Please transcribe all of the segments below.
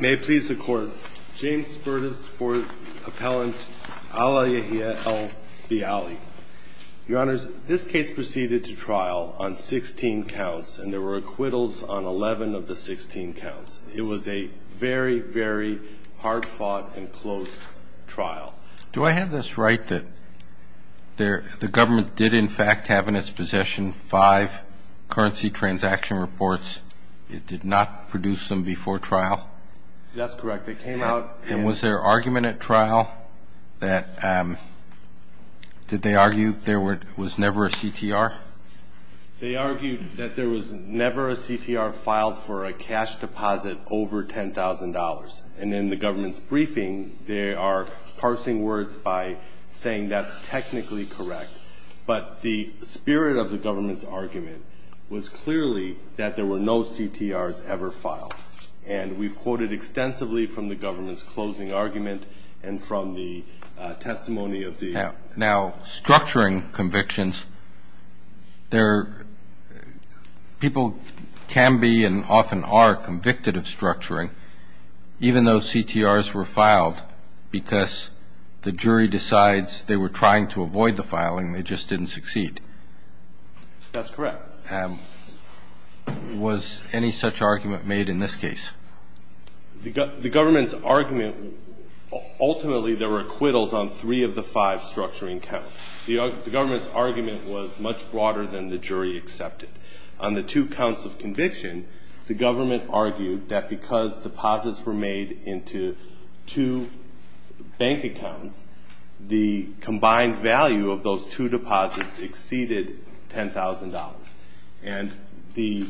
May it please the court. James Spertus for Appellant Alaa El Bealy. Your honors, this case proceeded to trial on 16 counts and there were acquittals on 11 of the 16 counts. It was a very very hard-fought and close trial. Do I have this right that the government did in fact have in its possession five currency transaction reports? It did not produce them before trial? That's correct. It came out. And was there argument at trial that, did they argue there were was never a CTR? They argued that there was never a CTR filed for a cash deposit over $10,000 and in the government's briefing they are parsing words by saying that's technically correct but the spirit of the government's argument was clearly that there were no CTRs ever filed and we've quoted extensively from the government's closing argument and from the testimony of the... Now structuring convictions there people can be and often are convicted of structuring even though CTRs were filed because the jury decides they were trying to avoid the filing they just didn't succeed. That's correct. Was any such argument made in this case? The government's argument ultimately there were acquittals on three of the five structuring counts. The government's argument was much broader than the jury accepted. On the two counts of conviction the government argued that because deposits were made into two bank accounts the combined value of those two deposits exceeded $10,000 and the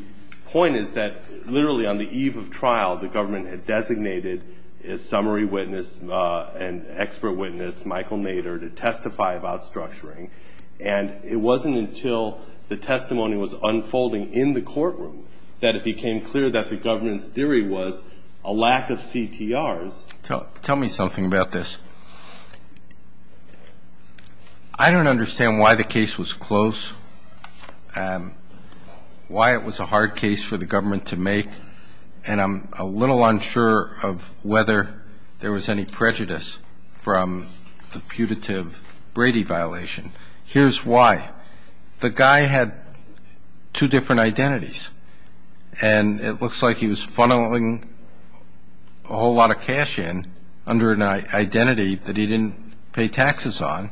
point is that literally on the eve of trial the government had designated a summary witness and expert witness Michael Nader to testify about structuring and it wasn't until the testimony was unfolding in the courtroom that it became clear that the government's theory was a lack of CTRs. Tell me something about this. I don't understand why the case was close, why it was a hard case for the government to make and I'm a little unsure of whether there was any prejudice from the putative Brady violation. Here's why. The guy had two different identities and it looks like he was funneling a whole lot of cash in under an identity that he didn't pay taxes on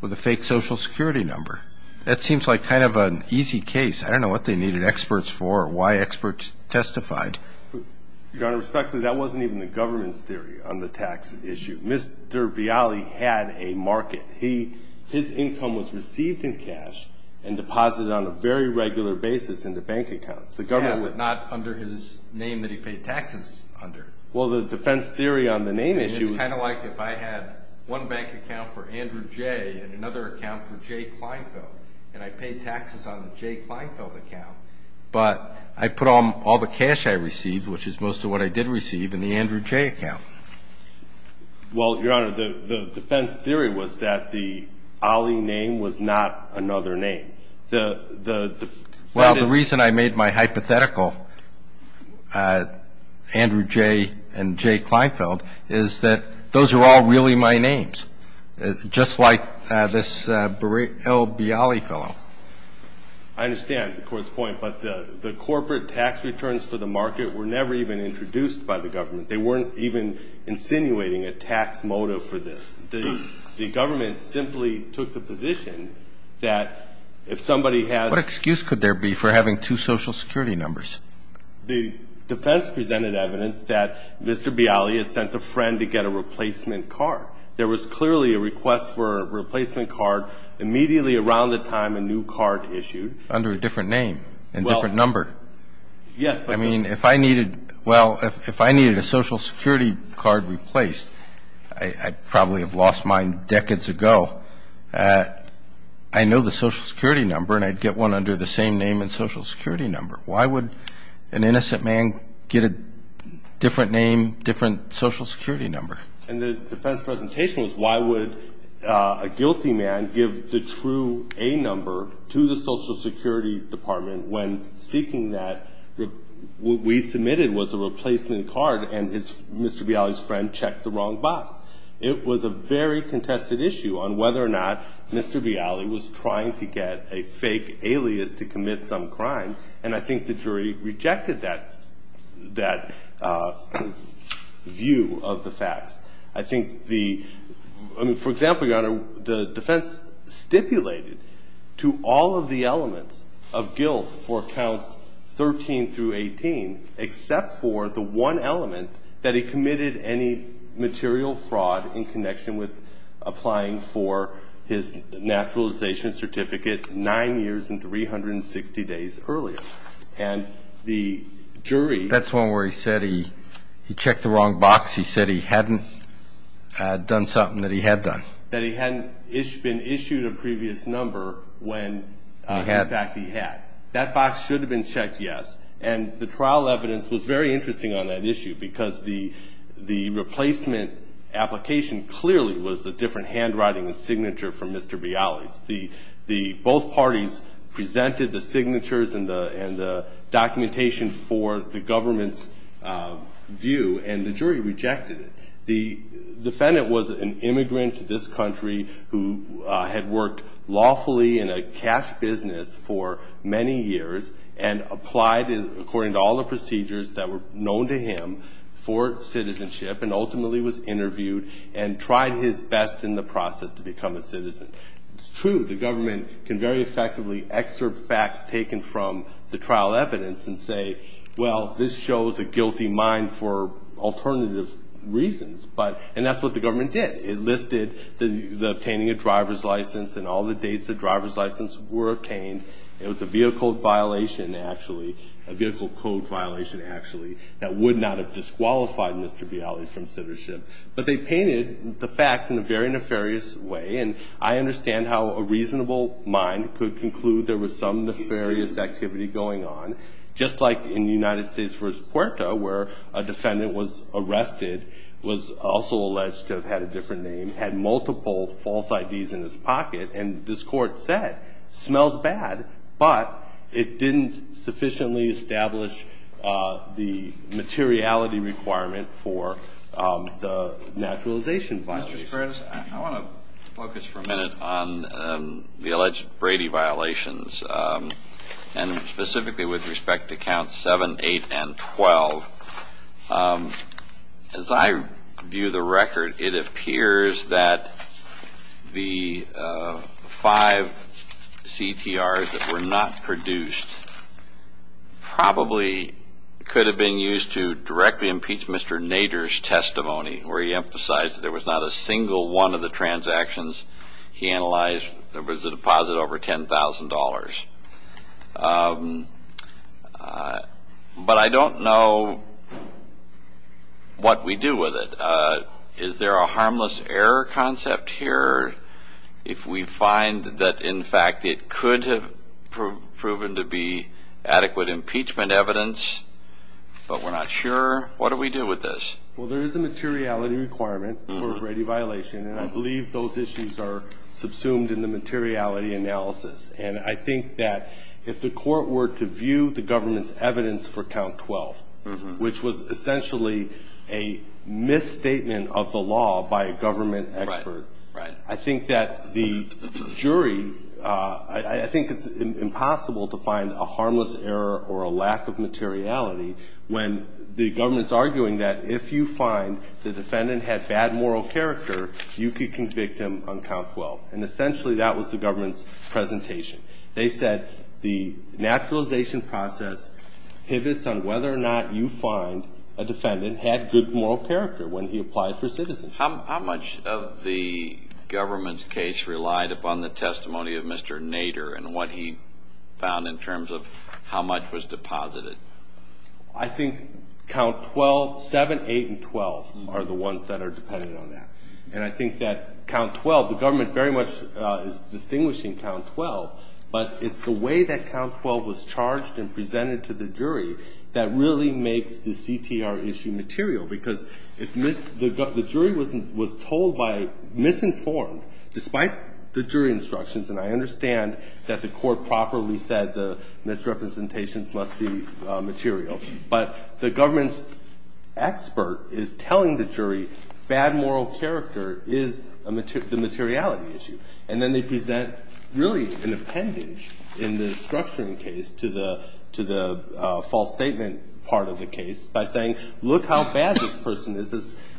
with a fake Social Security number. That seems like kind of an easy case. I don't know what they needed experts for, why experts testified. Your Honor, respectfully that wasn't even the government's theory on the tax issue. Mr. Bialy had a market. His income was received in cash and deposited on a very regular basis in the bank accounts. But not under his name that he paid taxes under. Well the defense theory on the name issue. It's kind of like if I had one bank account for Andrew Jay and another account for Jay Kleinfeld and I paid taxes on the Jay Kleinfeld account but I put on all the cash I received which is most of what I did receive in the Andrew Jay account. Well, Your Honor, the defense theory was that the Ali name was not another name. Well, the reason I made my hypothetical Andrew Jay and Jay Kleinfeld is that those are all really my names. Just like this L. Bialy fellow. I understand the court's point but the corporate tax returns for the market were never even introduced by the government. They weren't even insinuating a tax motive for this. The government simply took the position that if somebody had What excuse could there be for having two social security numbers? The defense presented evidence that Mr. Bialy had sent a friend to get a replacement card. There was clearly a request for a replacement card immediately around the time a new card issued. Under a different name and different number. Yes. I mean if I needed a social security card replaced, I'd probably have lost mine decades ago. I know the social security number and I'd get one under the same name and social security number. Why would an innocent man get a different name, different social security number? And the defense presentation was why would a guilty man give the true A number to the social security department when seeking that? What we know is that Mr. Bialy had sent a friend to get a replacement card and Mr. Bialy's friend checked the wrong box. It was a very contested issue on whether or not Mr. Bialy was trying to get a fake alias to commit some crime. And I think the jury rejected that, that view of the facts. I think the, I mean, for example, your honor, the defense stipulated to all of the elements of guilt for counts 13 through 18 except for the one element that he committed any material fraud in connection with applying for his naturalization certificate nine years and 360 days earlier. And the jury. That's one where he said he, he checked the wrong box. He said he hadn't done something that he had done. That he hadn't been issued a previous number when in fact he had. That box should have been checked. Yes. And the trial evidence was very interesting on that issue because the, the replacement application clearly was a different handwriting and signature from Mr. Bialy's. The, the both parties presented the signatures and the, and the documentation for the government's view and the jury rejected it. The defendant was an immigrant to this country who had worked lawfully in a cash business for many years and applied according to all the procedures that were known to him for citizenship and ultimately was interviewed and tried his best in the process to become a citizen. It's true, the government can very effectively excerpt facts taken from the trial evidence and say, well, this shows a guilty mind for alternative reasons. But, and that's what the government did. It listed the, the obtaining a driver's license and all the dates the driver's license were obtained. It was a vehicle violation, actually. A vehicle code violation, actually, that would not have disqualified Mr. Bialy from citizenship. But they painted the facts in a very nefarious way. And I understand how a reasonable mind could conclude there was some nefarious activity going on. Just like in the United States versus Puerto, where a defendant was arrested, was also alleged to have had a different name, had multiple false IDs in his pocket. And this court said, smells bad, but it didn't sufficiently establish the materiality requirement for the naturalization violation. Mr. Sparadis, I want to focus for a minute on the alleged Brady violations. And specifically with respect to counts seven, eight, and twelve. As I view the five CTRs that were not produced, probably could have been used to directly impeach Mr. Nader's testimony, where he emphasized that there was not a single one of the transactions he analyzed. There was a deposit over $10,000. But I don't know what we do with it. Is there a harmless error concept here if we find that, in fact, it could have proven to be adequate impeachment evidence, but we're not sure? What do we do with this? Well, there is a materiality requirement for a Brady violation. And I believe those issues are subsumed in the materiality analysis. And I think that if the court were to view the government's evidence for count 12, which was essentially a misstatement of the law by a government expert, I think that the jury – I think it's impossible to find a harmless error or a lack of materiality when the government's arguing that if you find the defendant had bad moral character, you could convict him on count 12. And essentially, that was the government's presentation. They said the naturalization process pivots on whether or not you find a defendant had good moral character when he applied for citizenship. How much of the government's case relied upon the testimony of Mr. Nader and what he found in terms of how much was deposited? I think count 12 – 7, 8, and 12 are the ones that are dependent on that. And I think that count 12 – the government very much is distinguishing count 12, but it's the way that count 12 was charged and presented to the jury that really makes the CTR issue material. Because if the jury was told by misinformed, despite the jury instructions – and I understand that the court properly said the misrepresentations must be material – but the government's expert is telling the jury bad moral character is the materiality issue. And then they present really an appendage in the structuring case to the false statement part of the case by saying, look how bad this person is,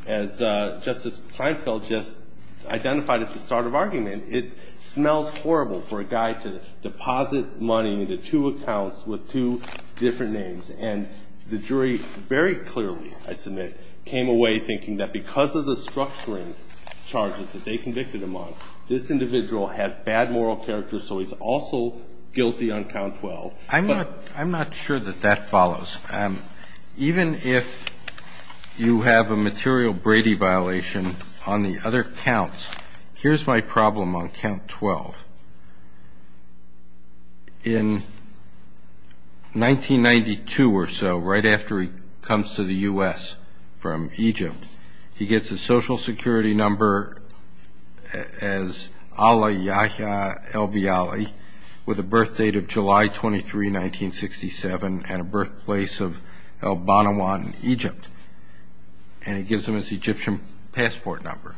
as Justice Kleinfeld just identified at the start of argument. It smells horrible for a guy to deposit money into two accounts with two different names. And the jury very clearly, I submit, came away thinking that because of the structuring charges that they convicted him on, this individual has bad moral character, so he's also guilty on count 12. I'm not sure that that follows. Even if you have a material Brady violation on the other counts – here's my problem on count 12. In 1992 or so, right after he comes to the U.S. from Egypt, he gets a Social Security number as Ala Yahya al-Biyali, with a birth date of July 23, 1967, and a birthplace of al-Banawan in Egypt. And he gives them his Egyptian passport number.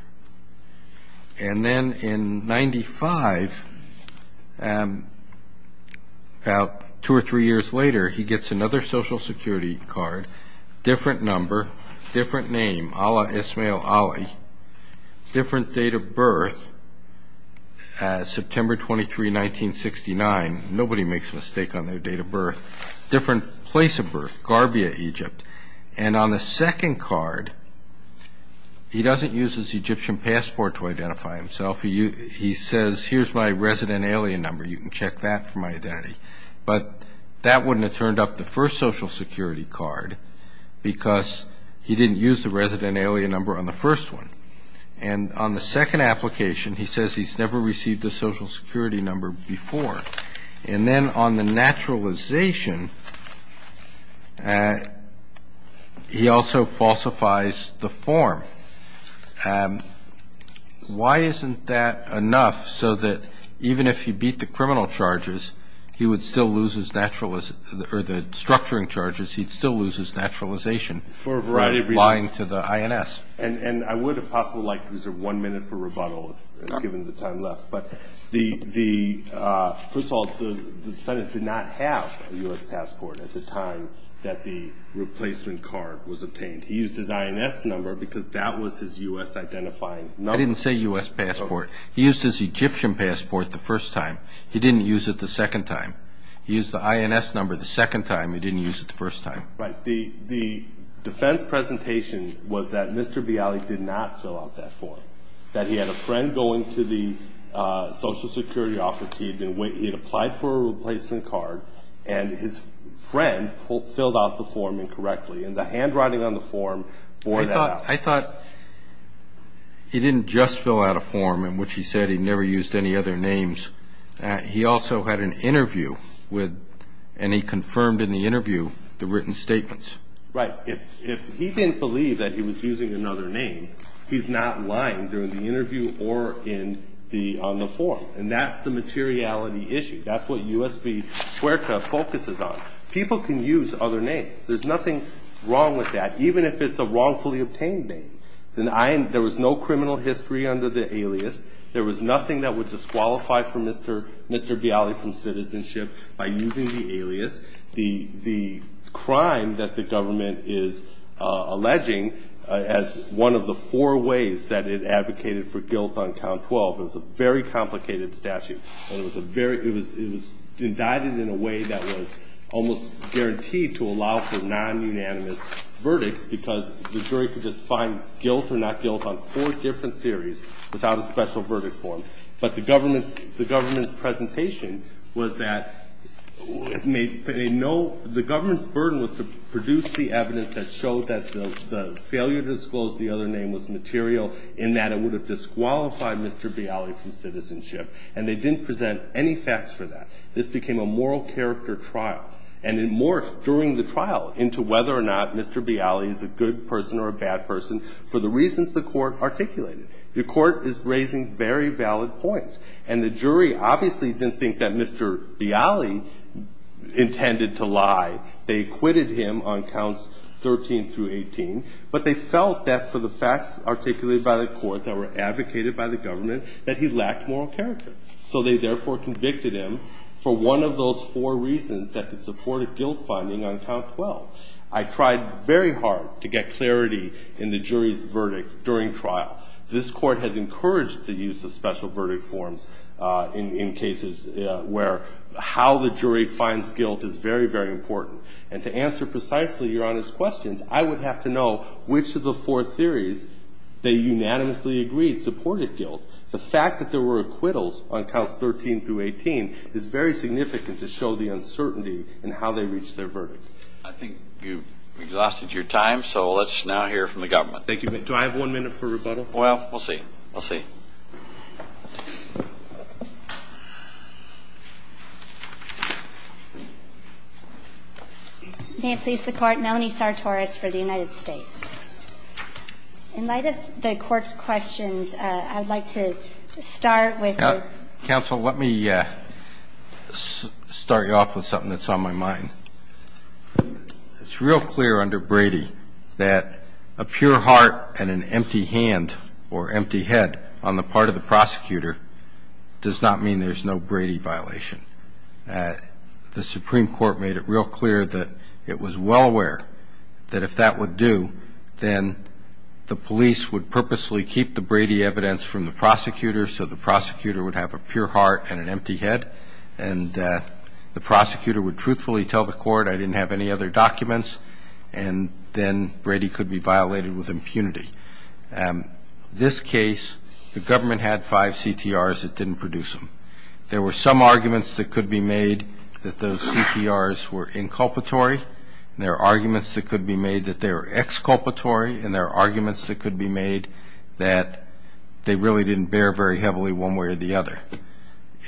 And then in 95, about two or three years later, he gets another Social Security card, different number, different name, Ala Ismail Ali, different date of birth, September 23, 1969. Nobody makes a mistake on their date of birth. Different place of birth, Garbia, Egypt. And on the second card, he doesn't use his Egyptian passport to identify himself. He says, here's my resident alien number. You can check that for my identity. But that wouldn't have turned up the first Social Security card because he didn't use the resident alien number on the first one. And on the second application, he says he's never received a Social Security number before. And then on the naturalization, he also falsifies the form. Why isn't that enough so that even if he beat the criminal charges, he would still lose his naturalization for lying to the INS? And I would have possibly liked to reserve one minute for rebuttal, given the time left. But first of all, the Senate did not have a U.S. passport at the time that the replacement card was obtained. He used his INS number because that was his U.S. identifying number. I didn't say U.S. passport. He used his Egyptian passport the first time. He didn't use it the second time. He used the INS number the second time. He didn't use it the first time. Right. The defense presentation was that Mr. Bialy did not fill out that form, that he had a friend going to the Social Security office. He had applied for a replacement card, and his friend filled out the form incorrectly. And the handwriting on the form bore that out. I thought he didn't just fill out a form in which he said he never used any other names. He also had an interview with, and he confirmed in the interview, the written statements. Right. If he didn't believe that he was using another name, he's not lying during the interview or on the form. And that's the materiality issue. That's what U.S. v. Squerka focuses on. People can use other names. There's nothing wrong with that, even if it's a wrongfully obtained name. There was no criminal history under the alias. There was nothing that would disqualify for Mr. Bialy from citizenship by using the alias. The crime that the government is alleging as one of the four ways that it advocated for guilt on count 12, it was a very complicated statute. And it was indicted in a way that was almost guaranteed to allow for non-unanimous verdicts, because the jury could just find guilt or not guilt on four different theories without a special verdict form. But the government's presentation was that they know the government's burden was to produce the evidence that showed that the failure to disclose the other name was material in that it would have disqualified Mr. Bialy from citizenship. And they didn't present any facts for that. This became a moral character trial. And it morphed during the trial into whether or not Mr. Bialy is a good person or a bad person for the reasons the Court articulated. The Court is raising very valid points. And the jury obviously didn't think that Mr. Bialy intended to lie. They acquitted him on counts 13 through 18. But they felt that for the facts articulated by the Court that were advocated by the government, that he lacked moral character. So they therefore convicted him for one of those four reasons that could support a guilt finding on count 12. I tried very hard to get clarity in the jury's verdict during the trial. This Court has encouraged the use of special verdict forms in cases where how the jury finds guilt is very, very important. And to answer precisely Your Honor's questions, I would have to know which of the four theories they unanimously agreed supported guilt. The fact that there were acquittals on counts 13 through 18 is very significant to show the uncertainty in how they reached their verdict. I think you've exhausted your time, so let's now hear from the government. Thank you. Do I have one minute for rebuttal? Well, we'll see. We'll see. May it please the Court. Melanie Sartoris for the United States. In light of the Court's questions, I'd like to start with the Counsel, let me start you off with something that's on my mind. It's real clear under Brady that a pure heart and an empty hand or empty head on the part of the prosecutor does not mean there's no Brady violation. The Supreme Court made it real clear that it was well aware that if that were due, then the police would purposely keep the Brady evidence from the prosecutor so the prosecutor would have a pure heart, I didn't have any other documents, and then Brady could be violated with impunity. This case, the government had five CTRs that didn't produce them. There were some arguments that could be made that those CTRs were inculpatory. There are arguments that could be made that they were exculpatory, and there are arguments that could be made that they really didn't bear very heavily one way or the other.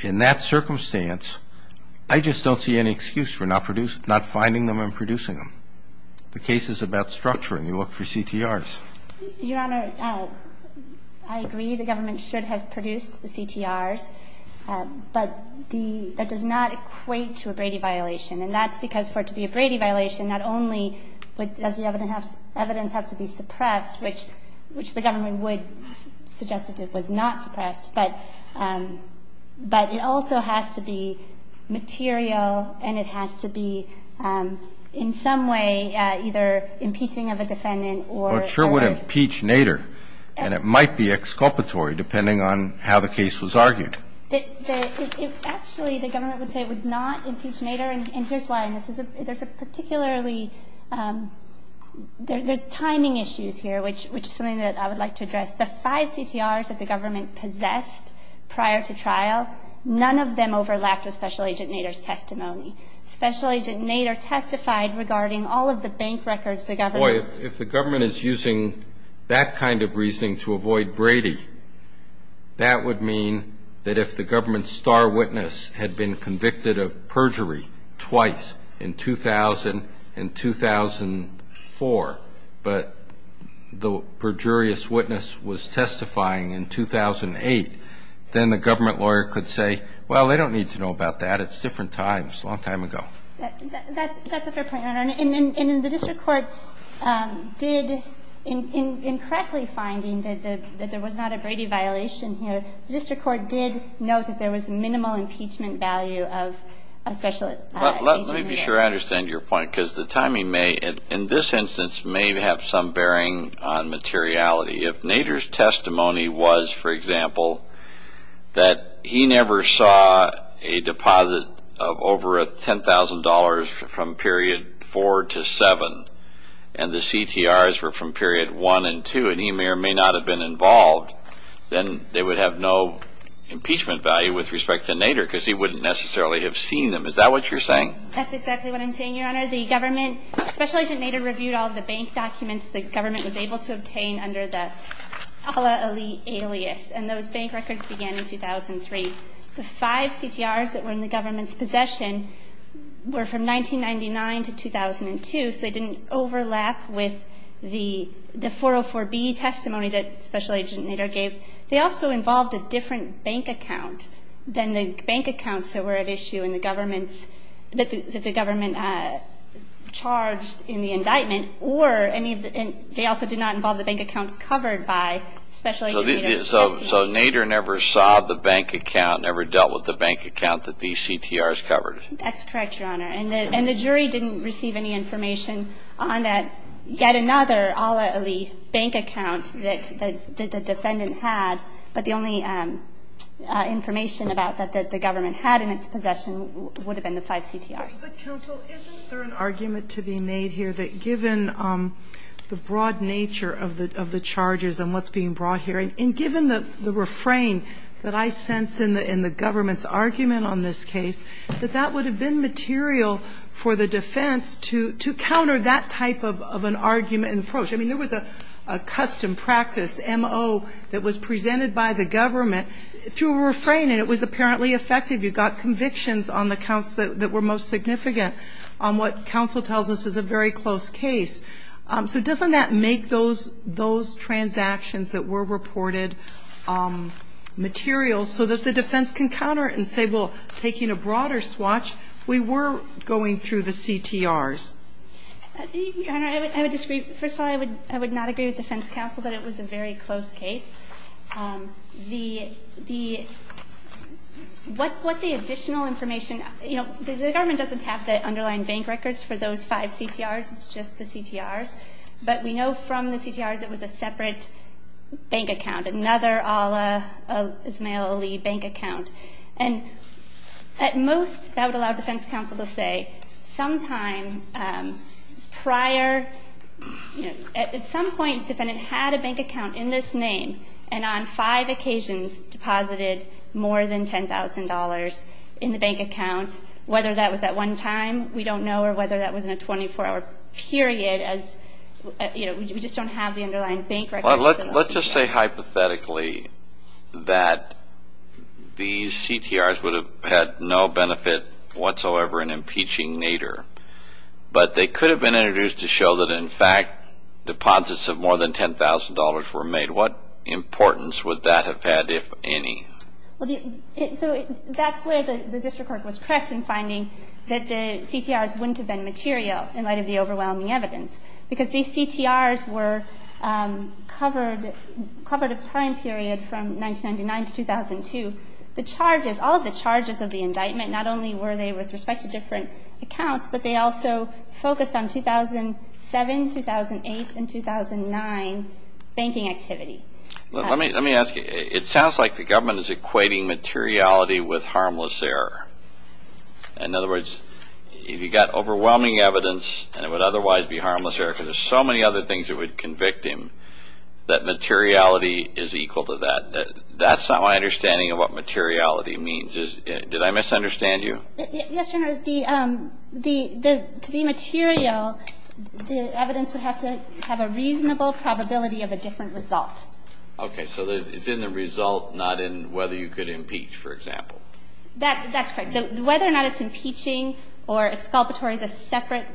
In that circumstance, I just don't see any excuse for not finding them and producing them. The case is about structuring. You look for CTRs. Your Honor, I agree the government should have produced the CTRs, but that does not equate to a Brady violation, and that's because for it to be a Brady violation, not only does the evidence have to be suppressed, which the government would suggest that it was not suppressed, but it also has to be material, and it has to be in some way either impeaching of a defendant or... Well, it sure would impeach Nader, and it might be exculpatory, depending on how the case was argued. Actually, the government would say it would not impeach Nader, and here's why. There's a particularly... There's timing issues here, which is something that I would like to address. The five CTRs that the government possessed prior to trial, none of them overlapped with Special Agent Nader's testimony. Special Agent Nader testified regarding all of the bank records the government... Boy, if the government is using that kind of reasoning to avoid Brady, that would mean that if the government's star witness had been convicted of perjury twice, in 2000 and 2004, but the perjurious witness was testifying in 2008, then the government lawyer could say, well, they don't need to know about that. It's different times, a long time ago. That's a fair point, Your Honor, and the district court did, in correctly finding that there was not a Brady violation here, the district court did note that there was minimal impeachment value of Special Agent Nader. Let me be sure I understand your point, because the timing may, in this instance, may have some bearing on materiality. If Nader's testimony was, for example, that he never saw a deposit of over $10,000 from period 4 to 7, and the CTRs were from period 1 and 2, and he may or may not have been involved, then they would have no impeachment value with respect to Nader, because he wouldn't necessarily have seen them. Is that what you're saying? That's exactly what I'm saying, Your Honor. The government, Special Agent Nader reviewed all of the bank documents the government was able to obtain under the Ala Ali alias, and those bank records began in 2003. The five CTRs that were in the government's possession were from 1999 to 2002, so they didn't overlap with the 404B testimony that Special Agent Nader gave. They also involved a different bank account than the bank accounts that were at issue in the government's, that the government charged in the indictment, or any of the, they also did not involve the bank accounts covered by Special Agent Nader's testimony. So Nader never saw the bank account, never dealt with the bank account that these CTRs covered? That's correct, Your Honor, and the jury didn't receive any information on that, yet another Ala Ali bank account that the defendant had, but the only information about that that the government had in its possession would have been the five CTRs. Counsel, isn't there an argument to be made here that given the broad nature of the charges and what's being brought here, and given the refrain that I sense in the government's argument on this case, that that would have been material for the defense to counter that type of an argument and approach? I mean, there was a custom practice, MO, that was presented by the government through a refrain, and it was apparently effective. You got convictions on the counts that were most significant on what were reported materials so that the defense can counter it and say, well, taking a broader swatch, we were going through the CTRs. Your Honor, I would disagree. First of all, I would not agree with Defense Counsel that it was a very close case. The what the additional information, you know, the government doesn't have the underlying bank records for those five CTRs. It's just the CTRs. But we know from the CTRs it was a separate bank account, another Allah Ismail Ali bank account. And at most, that would allow Defense Counsel to say, sometime prior, at some point the defendant had a bank account in this name, and on five occasions deposited more than $10,000. I don't know whether that was in a 24-hour period. We just don't have the underlying bank records. Let's just say hypothetically that these CTRs would have had no benefit whatsoever in impeaching Nader. But they could have been introduced to show that, in fact, deposits of more than $10,000 were made. What importance would that have had, if any? So that's where the district court was correct in finding that the CTRs wouldn't have been material, in light of the overwhelming evidence. Because these CTRs were covered, covered a time period from 1999 to 2002. The charges, all of the charges of the indictment, not only were they with respect to different accounts, but they also focused on 2007, 2008, and 2009 banking activity. Let me ask you, it sounds like the government is equating materiality with harmless error. In other words, if you got overwhelming evidence, and it would otherwise be harmless error, because there's so many other things that would convict him, that materiality is equal to that. That's not my understanding of what materiality means. Did I misunderstand you? Yes, Your Honor. To be material, the evidence would have to have a reasonable probability of a different result. Okay. So it's in the result, not in whether you could impeach, for example. That's correct. Whether or not it's impeaching or if sculpture is a separate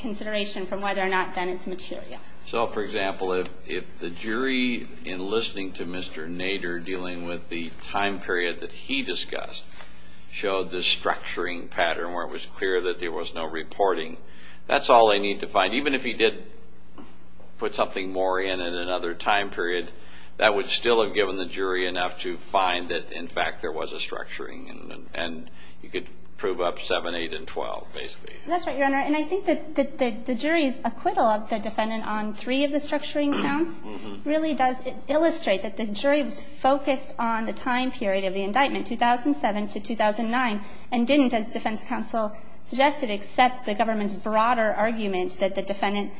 consideration from whether or not, then it's material. So, for example, if the jury, in listening to Mr. Nader, dealing with the time period that he discussed, showed the structuring pattern where it was clear that there was no reporting, that's all they need to find. Even if he did put something more in at another time period, that would still have given the jury enough to find that, in fact, there was a structuring. And you could prove up 7, 8, and 12, basically. That's right, Your Honor. And I think that the jury's acquittal of the defendant on three of the structuring counts really does illustrate that the jury was focused on the time period of the indictment, 2007 to 2009, and didn't, as defense counsel suggested, accept the government's broader argument that the defendant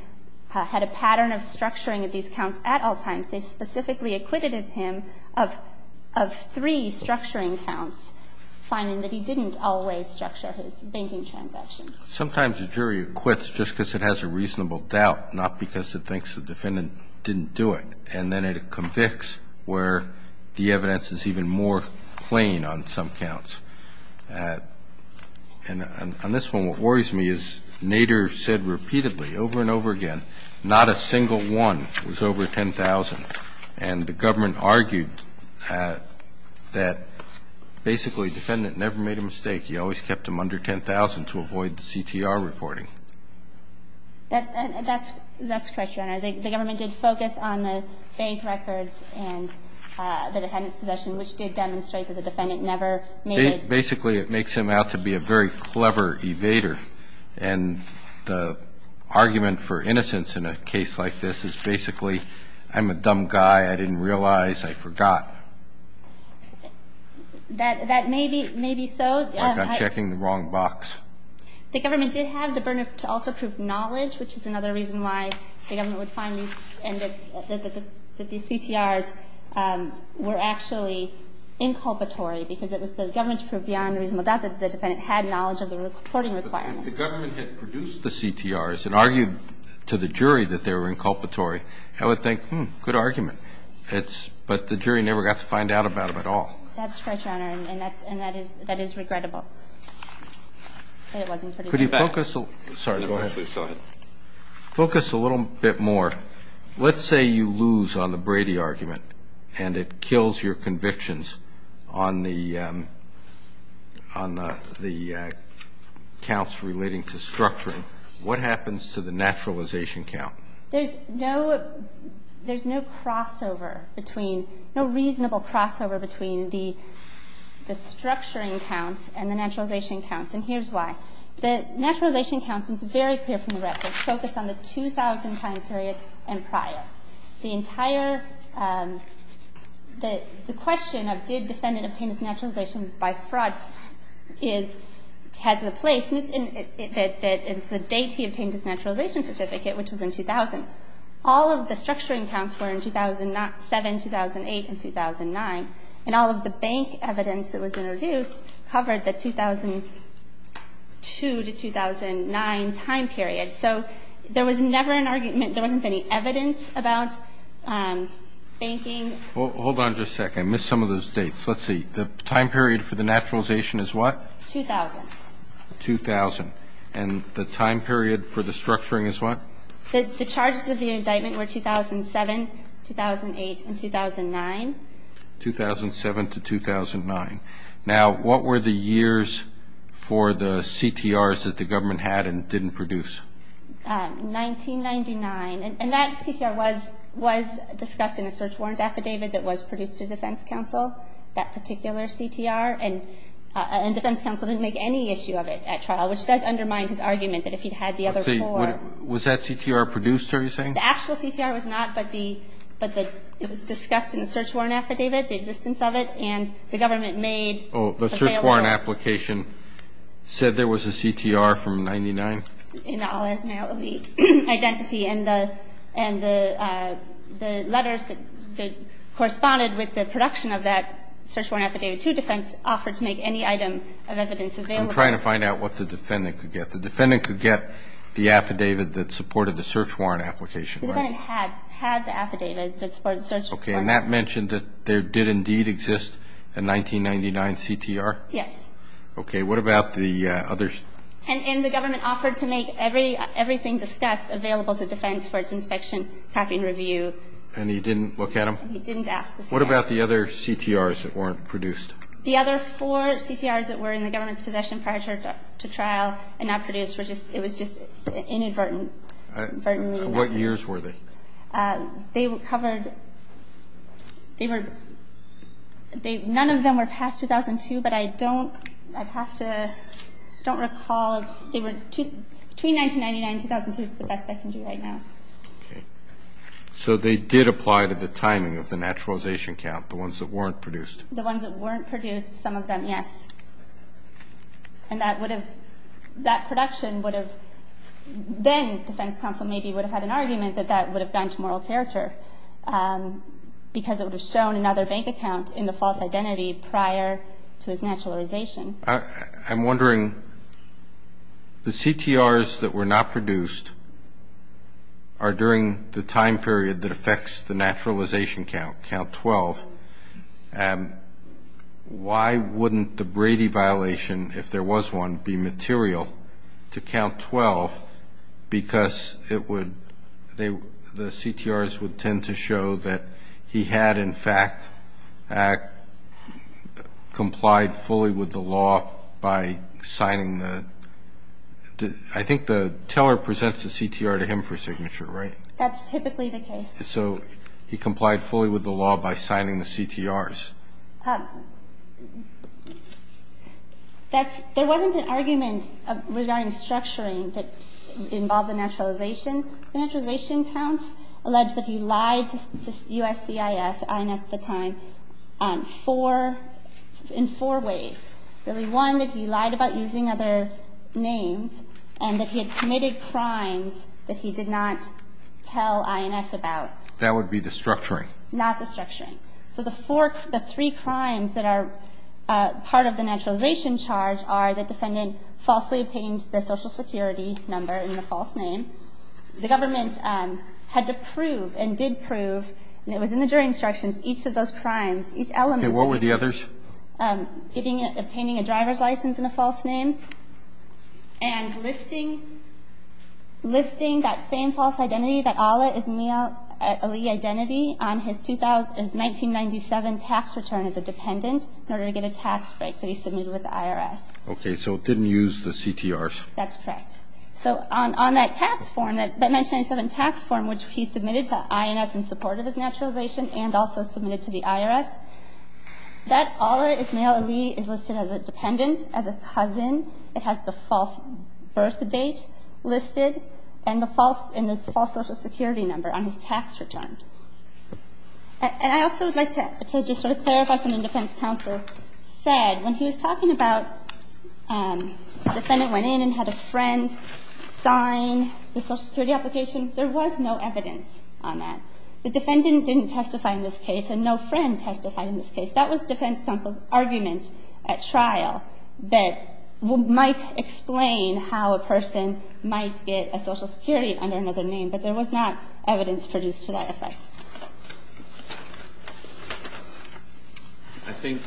had a pattern of structuring of these counts at all times. They specifically acquitted him of three structuring counts, finding that he didn't always structure his banking transactions. Sometimes a jury acquits just because it has a reasonable doubt, not because it thinks the defendant didn't do it. And then it convicts where the evidence is even more plain on some counts. And on this one, what worries me is Nader said repeatedly, over and over again, not a single one was over 10,000. And the government argued that basically the defendant never made a mistake. He always kept them under 10,000 to avoid the CTR reporting. That's correct, Your Honor. The government did focus on the bank records and the defendant's possession, which did demonstrate that the defendant never made it. Basically, it makes him out to be a very clever evader. And the argument for innocence in a case like this is basically, I'm a dumb guy, I didn't realize, I forgot. That may be so. Like I'm checking the wrong box. The government did have the burden to also prove knowledge, which is another reason why the government would find that these CTRs were actually inculpatory, because it was the government to prove beyond a reasonable doubt that the defendant had knowledge of the reporting requirements. If the government had produced the CTRs and argued to the jury that they were inculpatory, I would think, hmm, good argument. But the jury never got to find out about it at all. That's correct, Your Honor. And that is regrettable. Could you focus a little bit more? Let's say you lose on the Brady argument and it kills your convictions on the counts relating to structuring. What happens to the naturalization count? There's no crossover between, no reasonable crossover between the structuring counts and the naturalization counts, and here's why. The naturalization counts, it's very clear from the record, focus on the 2000-time period and prior. The entire, the question of did defendant obtain his naturalization by fraud has a place, and it's the date he obtained his naturalization certificate, which was in 2000. All of the structuring counts were in 2007, 2008, and 2009, and all of the bank evidence that was introduced covered the 2002-2009 time period. So there was never an argument, there wasn't any evidence about banking. Hold on just a second. I missed some of those dates. Let's see. The time period for the naturalization is what? 2000. 2000. And the time period for the structuring is what? The charges of the indictment were 2007, 2008, and 2009. 2007 to 2009. Now, what were the years for the CTRs that the government had and didn't produce? 1999. And that CTR was discussed in a search warrant affidavit that was produced to defense counsel, that particular CTR, and defense counsel didn't make any issue of it at trial, which does undermine his argument that if he'd had the other four. Was that CTR produced, are you saying? The actual CTR was not, but it was discussed in the search warrant affidavit, the existence of it, and the government made available. Oh, the search warrant application said there was a CTR from 99? In the alias male elite identity, and the letters that corresponded with the production of that search warrant affidavit to defense offered to make any item of evidence available. I'm trying to find out what the defendant could get. The defendant could get the affidavit that supported the search warrant application, right? The defendant had the affidavit that supported the search warrant. Okay, and that mentioned that there did indeed exist a 1999 CTR? Yes. Okay, what about the others? And the government offered to make everything discussed available to defense for its inspection, copy, and review. And he didn't look at them? He didn't ask to see them. What about the other CTRs that weren't produced? The other four CTRs that were in the government's possession prior to trial and not produced were just, it was just inadvertent. What years were they? They were covered, they were, none of them were past 2002, but I don't, I'd have to, I don't recall, they were, between 1999 and 2002, it's the best I can do right now. Okay. So they did apply to the timing of the naturalization count, the ones that weren't produced? The ones that weren't produced, some of them, yes. And that would have, that production would have, then defense counsel maybe would have had an argument that that would have gone to moral character because it would have shown another bank account in the false identity prior to his naturalization. I'm wondering, the CTRs that were not in the naturalization count, count 12, why wouldn't the Brady violation, if there was one, be material to count 12 because it would, the CTRs would tend to show that he had in fact complied fully with the law by signing the, I think the CTRs. That's, there wasn't an argument regarding structuring that involved the naturalization. The naturalization counts allege that he lied to USCIS, INS at the time, four, in four ways. Really one, that he lied about using other names and that he had committed crimes that he did not tell INS about. That would be the structuring. Not the structuring. So the four, the three crimes that are part of the naturalization charge are the defendant falsely obtained the social security number in the false name, the government had to prove and did prove, and it was in the jury instructions, each of those crimes, each element. Okay, what were the others? Getting, obtaining a driver's license in a false name and listing, listing that same false identity, that Allah Ismail Ali identity on his 1997 tax return as a dependent in order to get a tax break that he submitted with the IRS. Okay, so it didn't use the CTRs. That's correct. So on that tax form, that 1997 tax form which he submitted to INS in support of his naturalization and also submitted to the IRS, that Allah Ismail Ali is listed as a dependent, as a cousin. It has the false birth date listed and the false social security number on his tax return. And I also would like to just sort of clarify something the defense counsel said when he was talking about the defendant went in and had a friend sign the social security application. There was no evidence on that. The defendant didn't testify in this case and no friend testified in this case. That was defense counsel's argument at trial that might explain how a person might get a social security under another name, but there was not evidence produced to that effect. I think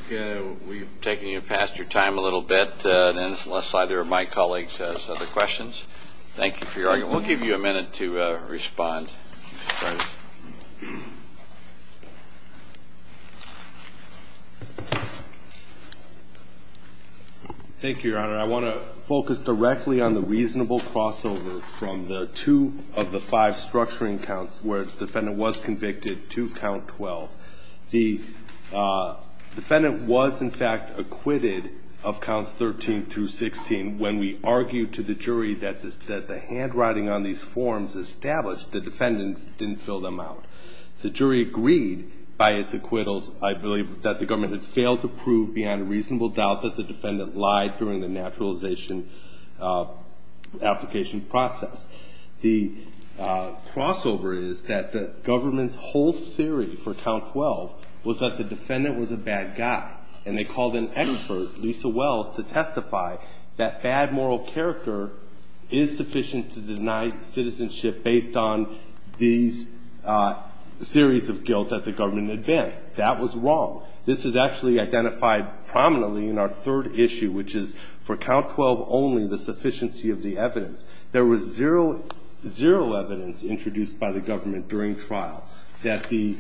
we've taken you past your time a little bit. Thank you for your argument. We'll give you a minute to respond. Thank you, Your Honor. I want to focus directly on the reasonable crossover from the two of the five structuring counts where the defendant was convicted to count 12. The jury agreed by its acquittals, I believe, that the government had failed to prove beyond a reasonable doubt that the defendant lied during the naturalization application process. The crossover is that the government's whole theory for count 12 was that the defendant was a bad guy, and they called an expert, that bad moral character is sufficient to deny citizenship based on these theories of guilt that the government advanced. That was wrong. This is actually identified prominently in our third issue, which is for count 12 only, the sufficiency of the evidence. There was zero evidence introduced by the government during trial that the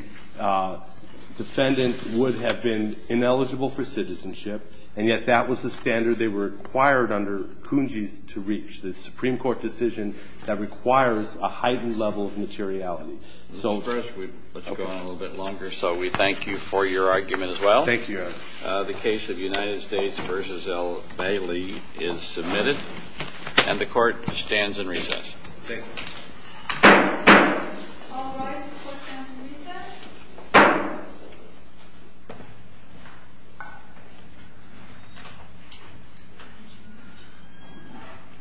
defendant would have been eligible for citizenship, and yet that was the standard they were required under CUNJIS to reach, the Supreme Court decision that requires a heightened level of materiality. So first, let's go on a little bit longer. So we thank you for your argument as well. Thank you, Your Honor. The case of United States v. L. Bailey is submitted, and the Court stands in recess. Thank you.